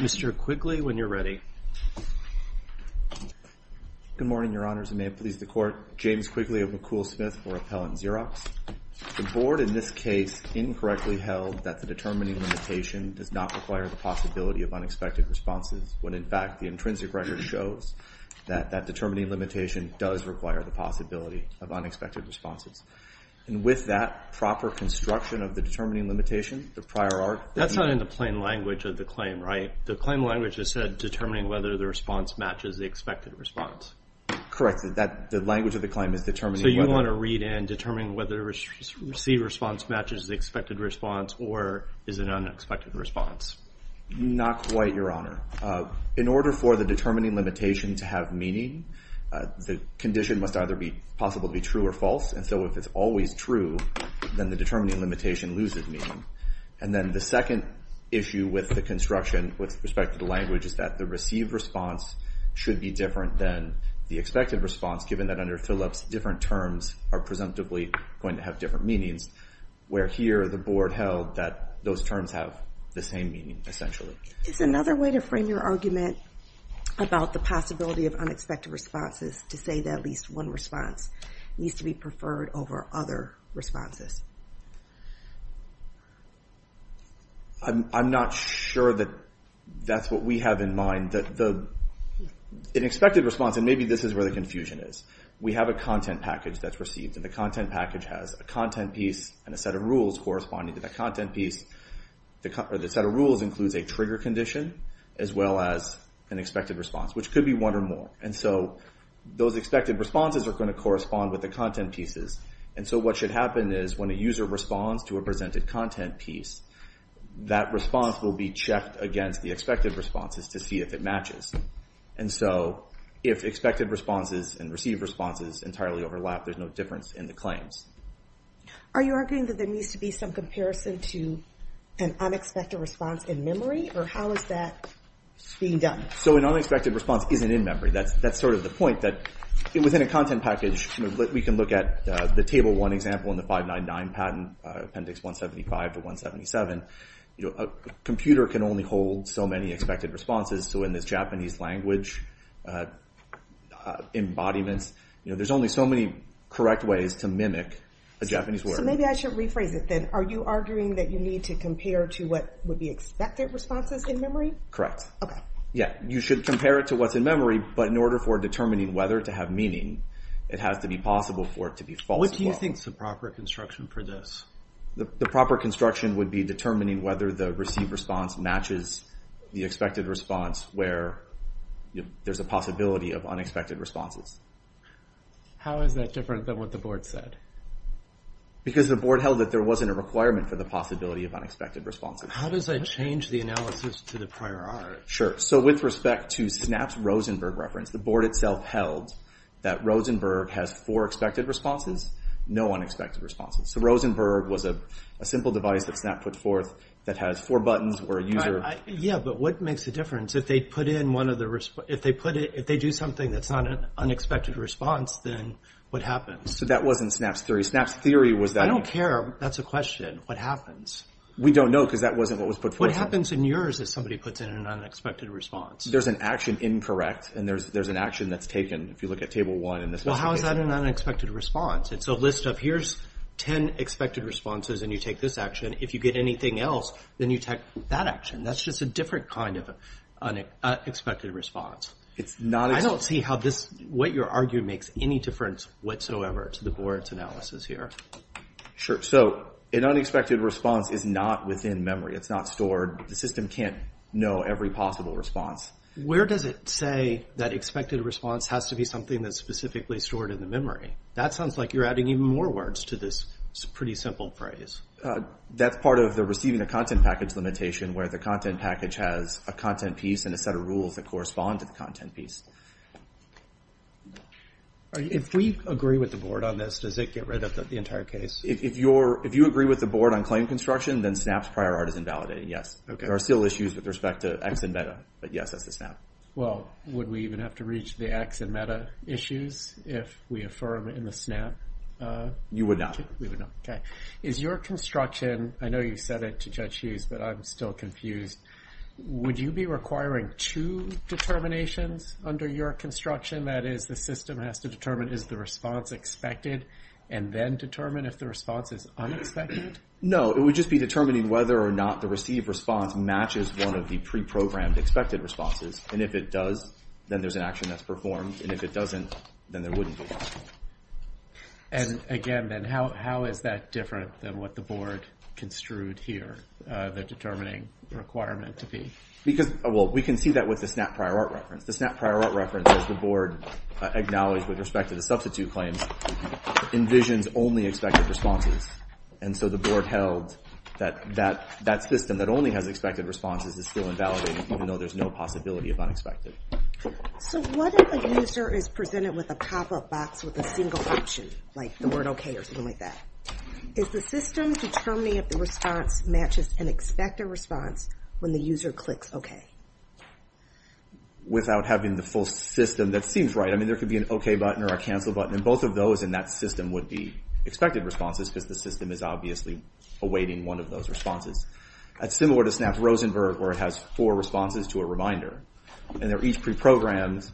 Mr. Quigley, when you're ready. Good morning, Your Honors, and may it please the Court, James Quigley of McCool-Smith for Appellant Xerox. The Board in this case incorrectly held that the determining limitation does not require the possibility of unexpected responses, when, in fact, the intrinsic record shows that that determining limitation does require the possibility of unexpected responses. And with that proper construction of the determining limitation, the prior art… That's not in the plain language of the claim, right? The claim language has said determining whether the response matches the expected response. Correct. The language of the claim is determining whether… So you want to read in determining whether the received response matches the expected response or is an unexpected response. Not quite, Your Honor. In order for the determining limitation to have meaning, the condition must either be possible to be true or false. And so if it's always true, then the determining limitation loses meaning. And then the second issue with the construction with respect to the language is that the received response should be different than the expected response, given that under Phillips, different terms are presumptively going to have different meanings, where here the Board held that those terms have the same meaning, essentially. Is another way to frame your argument about the possibility of unexpected responses to say that at least one response needs to be preferred over other responses? I'm not sure that that's what we have in mind. An expected response, and maybe this is where the confusion is. We have a content package that's received, and the content package has a content piece and a set of rules corresponding to the content piece. The set of rules includes a trigger condition as well as an expected response, which could be one or more. And so those expected responses are going to correspond with the content pieces. And so what should happen is when a user responds to a presented content piece, that response will be checked against the expected responses to see if it matches. And so if expected responses and received responses entirely overlap, there's no difference in the claims. Are you arguing that there needs to be some comparison to an unexpected response in memory, or how is that being done? So an unexpected response isn't in memory. That's sort of the point, that within a content package, we can look at the Table 1 example in the 599 patent, Appendix 175 to 177. A computer can only hold so many expected responses, so in this Japanese language embodiment, there's only so many correct ways to mimic a Japanese word. So maybe I should rephrase it then. Are you arguing that you need to compare to what would be expected responses in memory? Correct. Okay. Yeah, you should compare it to what's in memory, but in order for determining whether to have meaning, it has to be possible for it to be false. What do you think is the proper construction for this? The proper construction would be determining whether the received response matches the expected response where there's a possibility of unexpected responses. How is that different than what the board said? Because the board held that there wasn't a requirement for the possibility of unexpected responses. How does that change the analysis to the prior art? Sure. So with respect to Snap's Rosenberg reference, the board itself held that Rosenberg has four expected responses, no unexpected responses. So Rosenberg was a simple device that Snap put forth that has four buttons where a user… Yeah, but what makes the difference? If they do something that's not an unexpected response, then what happens? So that wasn't Snap's theory. Snap's theory was that… I don't care. That's a question. What happens? We don't know because that wasn't what was put forth. What happens in yours if somebody puts in an unexpected response? There's an action incorrect, and there's an action that's taken. If you look at Table 1 in this case… Well, how is that an unexpected response? It's a list of here's 10 expected responses, and you take this action. If you get anything else, then you take that action. That's just a different kind of unexpected response. It's not… I don't see how this, what your argument makes any difference whatsoever to the board's analysis here. Sure. So an unexpected response is not within memory. It's not stored. The system can't know every possible response. Where does it say that expected response has to be something that's specifically stored in the memory? That sounds like you're adding even more words to this pretty simple phrase. That's part of the receiving a content package limitation, where the content package has a content piece and a set of rules that correspond to the content piece. If we agree with the board on this, does it get rid of the entire case? If you agree with the board on claim construction, then SNAP's prior art is invalidated, yes. There are still issues with respect to X and meta, but yes, that's the SNAP. Well, would we even have to reach the X and meta issues if we affirm in the SNAP? You would not. We would not. Okay. Is your construction… I know you said it to Judge Hughes, but I'm still confused. Would you be requiring two determinations under your construction? That is, the system has to determine is the response expected and then determine if the response is unexpected? It would just be determining whether or not the received response matches one of the pre-programmed expected responses. And if it does, then there's an action that's performed. And if it doesn't, then there wouldn't be one. And again, then, how is that different than what the board construed here, the determining requirement to be? Well, we can see that with the SNAP prior art reference. The SNAP prior art reference, as the board acknowledged with respect to the substitute claims, envisions only expected responses. And so the board held that that system that only has expected responses is still invalidated, even though there's no possibility of unexpected. So what if a user is presented with a pop-up box with a single option, like the word okay or something like that? Is the system determining if the response matches an expected response when the user clicks okay? Without having the full system that seems right. I mean, there could be an okay button or a cancel button, and both of those in that system would be expected responses, because the system is obviously awaiting one of those responses. That's similar to SNAP's Rosenberg, where it has four responses to a reminder. And they're each pre-programmed,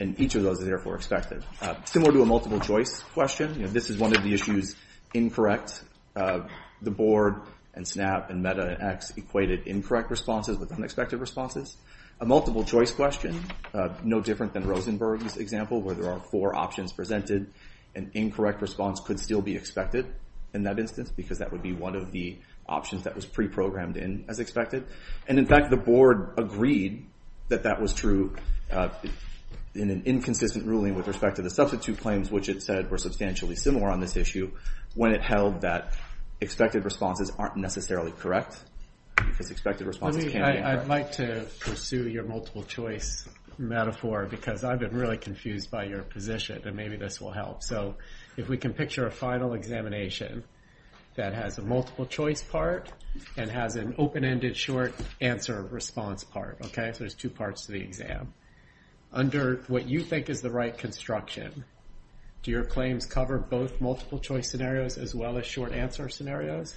and each of those is therefore expected. Similar to a multiple choice question, this is one of the issues incorrect. The board and SNAP and MEDA and X equated incorrect responses with unexpected responses. A multiple choice question, no different than Rosenberg's example, where there are four options presented. An incorrect response could still be expected in that instance, because that would be one of the options that was pre-programmed in as expected. And in fact, the board agreed that that was true in an inconsistent ruling with respect to the substitute claims, which it said were substantially similar on this issue, when it held that expected responses aren't necessarily correct, because expected responses can be incorrect. I'd like to pursue your multiple choice metaphor, because I've been really confused by your position, and maybe this will help. So if we can picture a final examination that has a multiple choice part, and has an open-ended short answer response part, okay? So there's two parts to the exam. Under what you think is the right construction, do your claims cover both multiple choice scenarios as well as short answer scenarios?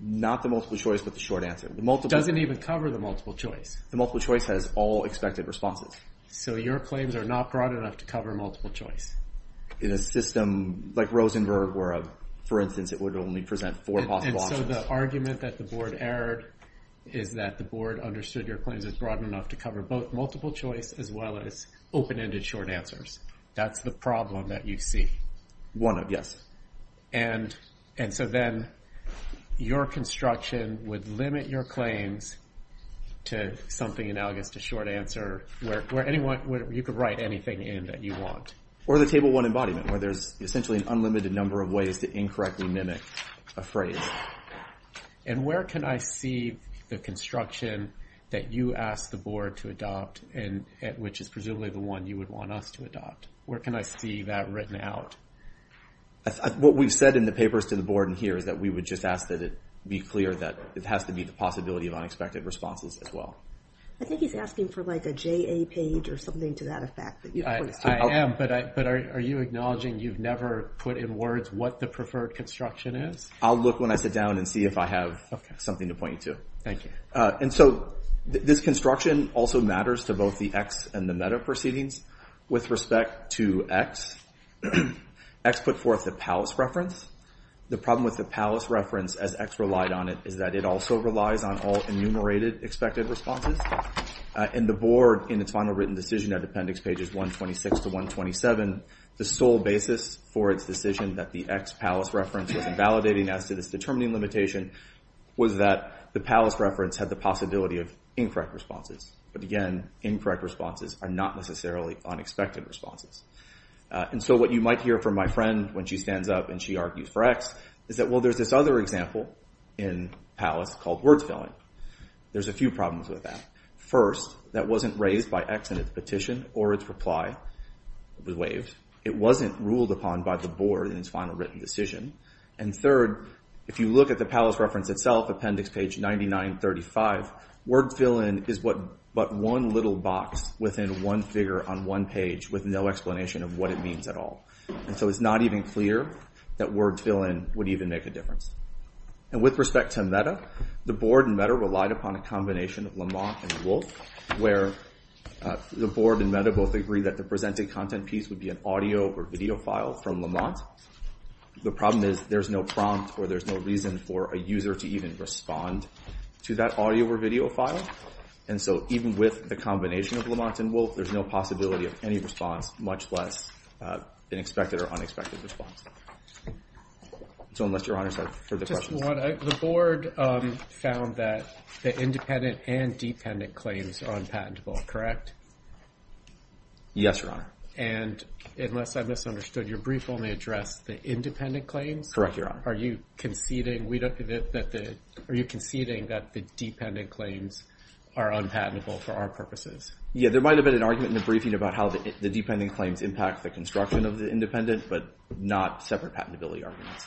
Not the multiple choice, but the short answer. It doesn't even cover the multiple choice. The multiple choice has all expected responses. So your claims are not broad enough to cover multiple choice. In a system like Rosenberg, where for instance it would only present four possible options. So the argument that the board erred is that the board understood your claims as broad enough to cover both multiple choice as well as open-ended short answers. That's the problem that you see. One of, yes. And so then your construction would limit your claims to something analogous to short answer, where you could write anything in that you want. Or the table one embodiment, where there's essentially an unlimited number of ways to incorrectly mimic a phrase. And where can I see the construction that you ask the board to adopt, which is presumably the one you would want us to adopt? Where can I see that written out? What we've said in the papers to the board in here is that we would just ask that it be clear that it has to be the possibility of unexpected responses as well. I think he's asking for like a JA page or something to that effect. I am, but are you acknowledging you've never put in words what the preferred construction is? I'll look when I sit down and see if I have something to point you to. Thank you. And so this construction also matters to both the X and the meta proceedings. With respect to X, X put forth the palace reference. The problem with the palace reference as X relied on it is that it also relies on all enumerated expected responses. And the board, in its final written decision at appendix pages 126 to 127, the sole basis for its decision that the X palace reference was invalidating as to this determining limitation, was that the palace reference had the possibility of incorrect responses. But again, incorrect responses are not necessarily unexpected responses. And so what you might hear from my friend when she stands up and she argues for X is that, well, there's this other example in palace called words filling. There's a few problems with that. First, that wasn't raised by X in its petition or its reply. It was waived. It wasn't ruled upon by the board in its final written decision. And third, if you look at the palace reference itself, appendix page 9935, word fill-in is but one little box within one figure on one page with no explanation of what it means at all. And so it's not even clear that word fill-in would even make a difference. And with respect to META, the board and META relied upon a combination of Lamont and Wolfe, where the board and META both agree that the presented content piece would be an audio or video file from Lamont. The problem is there's no prompt or there's no reason for a user to even respond to that audio or video file. And so even with the combination of Lamont and Wolfe, there's no possibility of any response, much less an expected or unexpected response. So unless Your Honor has further questions. Just one. The board found that the independent and dependent claims are unpatentable, correct? Yes, Your Honor. And unless I misunderstood, your brief only addressed the independent claims? Correct, Your Honor. Are you conceding that the dependent claims are unpatentable for our purposes? Yeah, there might have been an argument in the briefing about how the dependent claims impact the construction of the independent, but not separate patentability arguments.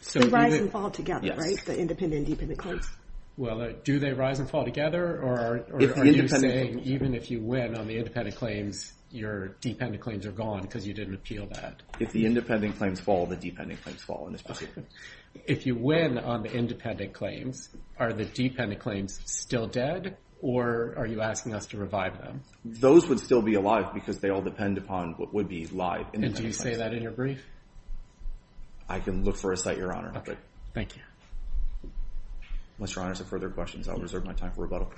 So they rise and fall together, right, the independent and dependent claims? Well, do they rise and fall together, or are you saying even if you win on the independent claims, your dependent claims are gone because you didn't appeal that? If the independent claims fall, the dependent claims fall in this procedure. If you win on the independent claims, are the dependent claims still dead, or are you asking us to revive them? Those would still be alive because they all depend upon what would be live. And do you say that in your brief? I can look for a cite, Your Honor. Okay, thank you. Unless Your Honor has further questions, I'll reserve my time for rebuttal.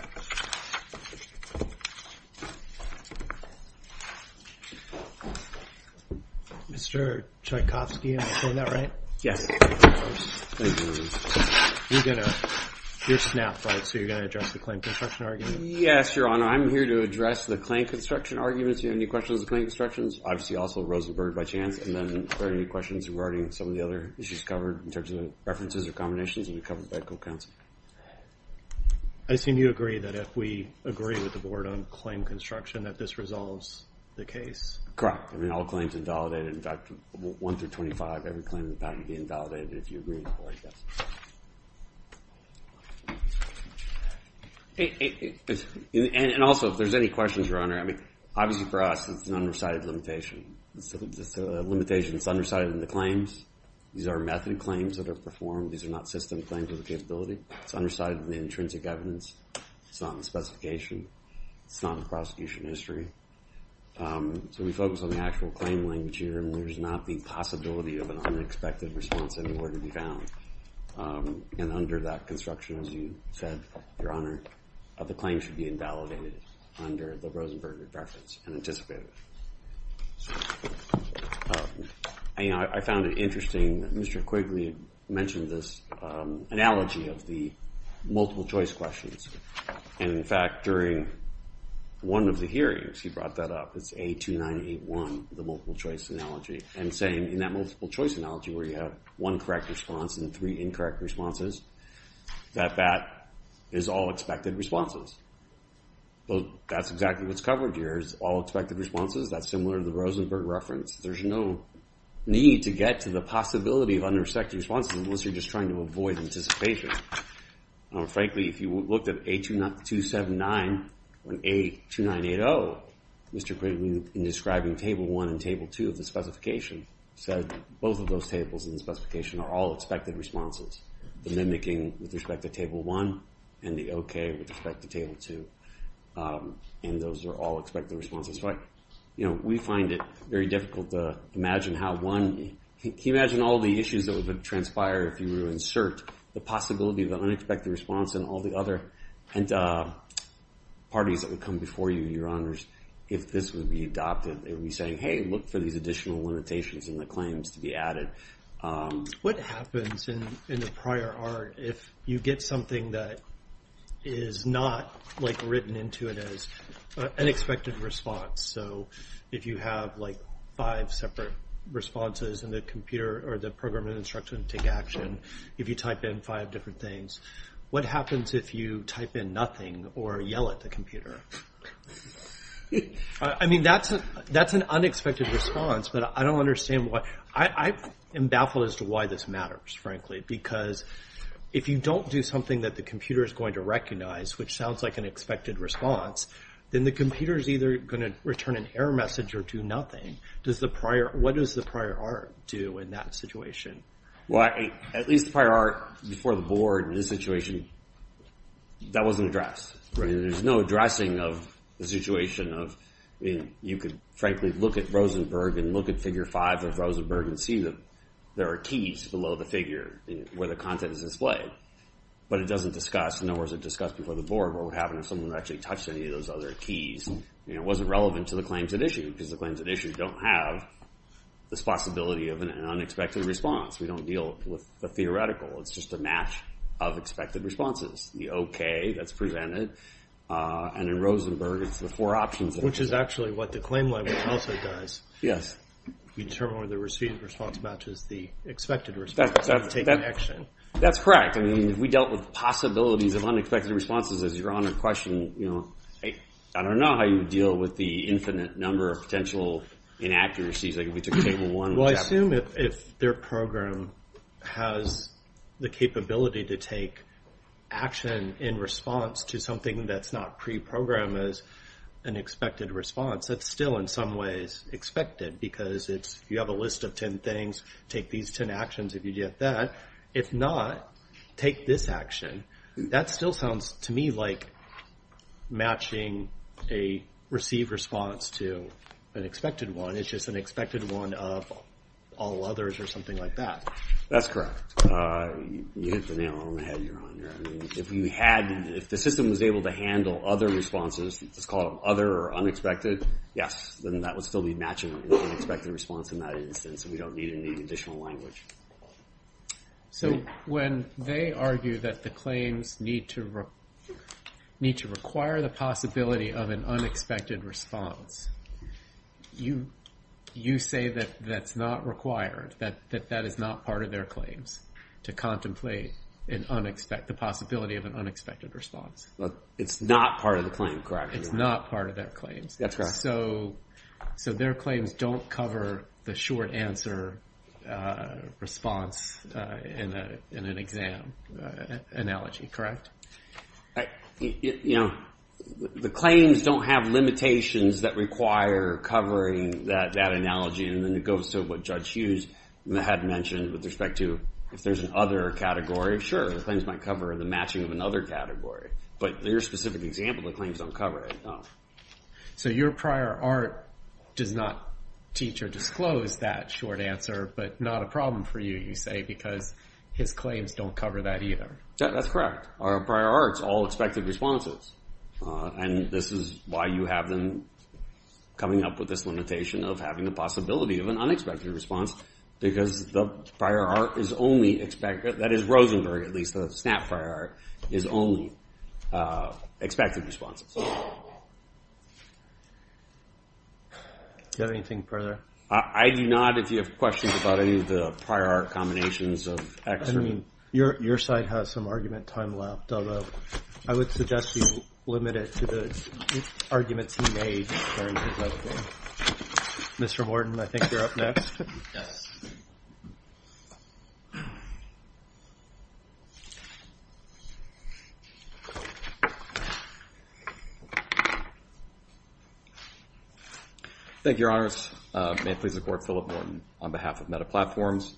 Mr. Tchaikovsky, am I saying that right? Yes. Thank you, Your Honor. You're SNAP, right, so you're going to address the claim construction argument? Yes, Your Honor. I'm here to address the claim construction argument. Do you have any questions on the claim constructions? Obviously also Rosenberg, by chance. And then are there any questions regarding some of the other issues covered in terms of references or combinations that were covered by the court counsel? I assume you agree that if we agree with the board on claim construction that this resolves the case? Correct. I mean, all claims are invalidated. In fact, 1 through 25, every claim in the patent would be invalidated if you agree with the board, yes. And also, if there's any questions, Your Honor, I mean, obviously for us it's an undecided limitation. It's a limitation that's undecided in the claims. These are method claims that are performed. These are not system claims with a capability. It's undecided in the intrinsic evidence. It's not in the specification. It's not in the prosecution history. So we focus on the actual claim language here. And there's not the possibility of an unexpected response anywhere to be found. And under that construction, as you said, Your Honor, the claim should be invalidated under the Rosenberg reference and anticipated. I found it interesting that Mr. Quigley mentioned this analogy of the multiple choice questions. And in fact, during one of the hearings, he brought that up. It's A2981, the multiple choice analogy. And saying in that multiple choice analogy where you have one correct response and three incorrect responses, that that is all expected responses. That's exactly what's covered here is all expected responses. That's similar to the Rosenberg reference. There's no need to get to the possibility of unexpected responses unless you're just trying to avoid anticipation. Frankly, if you looked at A279 and A2980, Mr. Quigley, in describing Table 1 and Table 2 of the specification, said both of those tables in the specification are all expected responses. The mimicking with respect to Table 1 and the okay with respect to Table 2. And those are all expected responses. We find it very difficult to imagine how one, can you imagine all the issues that would transpire if you were to insert the possibility of an unexpected response and all the other parties that would come before you, Your Honors, if this would be adopted. They would be saying, hey, look for these additional limitations in the claims to be added. What happens in the prior art if you get something that is not written into it as an expected response? So if you have five separate responses in the computer or the program and instruction to take action, if you type in five different things, what happens if you type in nothing or yell at the computer? I mean, that's an unexpected response, but I don't understand why. I am baffled as to why this matters, frankly, because if you don't do something that the computer is going to recognize, which sounds like an expected response, then the computer is either going to return an error message or do nothing. What does the prior art do in that situation? Well, at least the prior art before the board in this situation, that wasn't addressed. There's no addressing of the situation of you could, frankly, look at Rosenberg and look at figure five of Rosenberg and see that there are keys below the figure where the content is displayed. But it doesn't discuss, nor was it discussed before the board, what would happen if someone actually touched any of those other keys. It wasn't relevant to the claims at issue because the claims at issue don't have this possibility of an unexpected response. We don't deal with the theoretical. It's just a match of expected responses. The okay, that's presented, and in Rosenberg, it's the four options. Which is actually what the claim level also does. Yes. You determine whether the received response matches the expected response to take action. That's correct. I mean, we dealt with possibilities of unexpected responses as you're on a question. I don't know how you would deal with the infinite number of potential inaccuracies like if we took table one. Well, I assume if their program has the capability to take action in response to something that's not pre-programmed as an expected response, that's still in some ways expected. Because if you have a list of ten things, take these ten actions if you get that. If not, take this action. That still sounds to me like matching a received response to an expected one. It's just an expected one of all others or something like that. That's correct. You hit the nail on the head. If the system was able to handle other responses, let's call them other or unexpected, yes. Then that would still be matching an unexpected response in that instance. We don't need any additional language. So when they argue that the claims need to require the possibility of an unexpected response, you say that that's not required, that that is not part of their claims to contemplate the possibility of an unexpected response. It's not part of the claim, correct. It's not part of their claims. That's correct. So their claims don't cover the short answer response in an exam analogy, correct? The claims don't have limitations that require covering that analogy. Then it goes to what Judge Hughes had mentioned with respect to if there's an other category. Sure, the claims might cover the matching of another category. But in your specific example, the claims don't cover that. So your prior art does not teach or disclose that short answer, but not a problem for you, you say, because his claims don't cover that either. That's correct. Our prior art is all expected responses. And this is why you have them coming up with this limitation of having the possibility of an unexpected response, because the prior art is only expected. That is, Rosenberg, at least, the SNAP prior art, is only expected responses. Do you have anything further? I do not, if you have questions about any of the prior art combinations of X. Your side has some argument time left, although I would suggest you limit it to the arguments he made during his opening. Mr. Morton, I think you're up next. Thank you, Your Honors. May it please the Court, Philip Morton, on behalf of MetaPlatforms.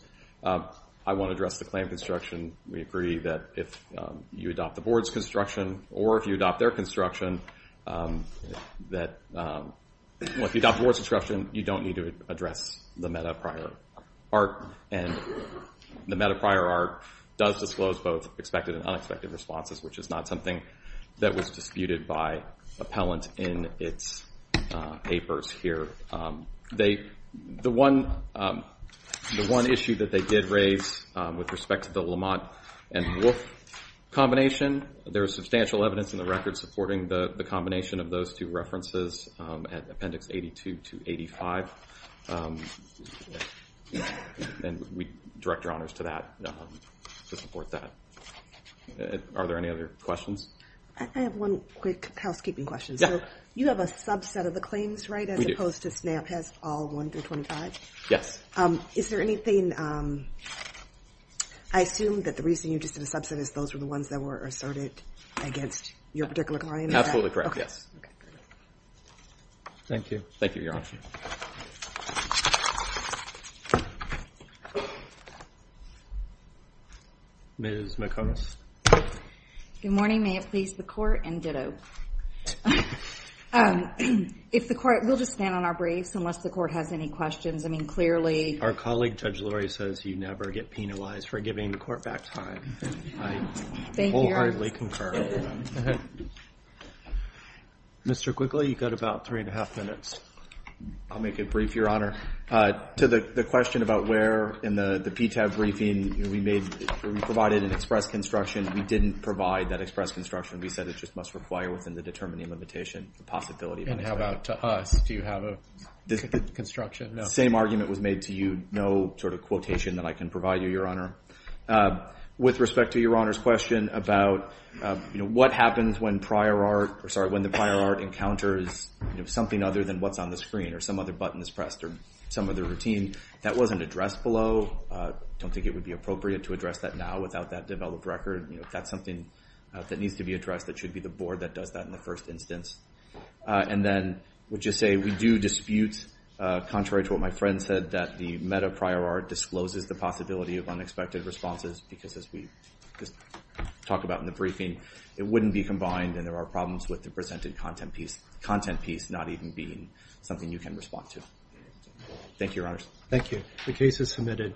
I want to address the claim construction. We agree that if you adopt the board's construction, or if you adopt their construction, you don't need to address the meta prior art. And the meta prior art does disclose both expected and unexpected responses, which is not something that was disputed by appellant in its papers here. The one issue that they did raise with respect to the Lamont and Wolfe combination, there is substantial evidence in the record supporting the combination of those two references at Appendix 82 to 85. And we direct your honors to that, to support that. Are there any other questions? I have one quick housekeeping question. Yeah. You have a subset of the claims, right? We do. As opposed to SNAP has all 1 through 25? Yes. Is there anything, I assume that the reason you just did a subset is those were the ones that were asserted against your particular client? Absolutely correct, yes. Okay, good. Thank you. Thank you, Your Honor. Ms. McComas. Good morning. May it please the court. And ditto. If the court, we'll just stand on our briefs unless the court has any questions. I mean, clearly. Our colleague Judge Lori says you never get penalized for giving the court back time. I wholeheartedly concur. Mr. Quigley, you've got about three and a half minutes. I'll make it brief, Your Honor. To the question about where in the PTAB briefing, we provided an express construction. We didn't provide that express construction. We said it just must require within the determining limitation, the possibility. And how about to us? Do you have a construction? The same argument was made to you. No sort of quotation that I can provide you, Your Honor. With respect to Your Honor's question about, you know, what happens when prior art, or sorry, when the prior art encounters, you know, something other than what's on the screen or some other button is pressed or some other routine. That wasn't addressed below. I don't think it would be appropriate to address that now without that developed record. You know, if that's something that needs to be addressed, that should be the board that does that in the first instance. And then, we'll just say we do dispute, contrary to what my friend said, that the meta prior art discloses the possibility of unexpected responses because as we just talked about in the briefing, it wouldn't be combined and there are problems with the presented content piece, not even being something you can respond to. Thank you, Your Honors. Thank you. The case is submitted.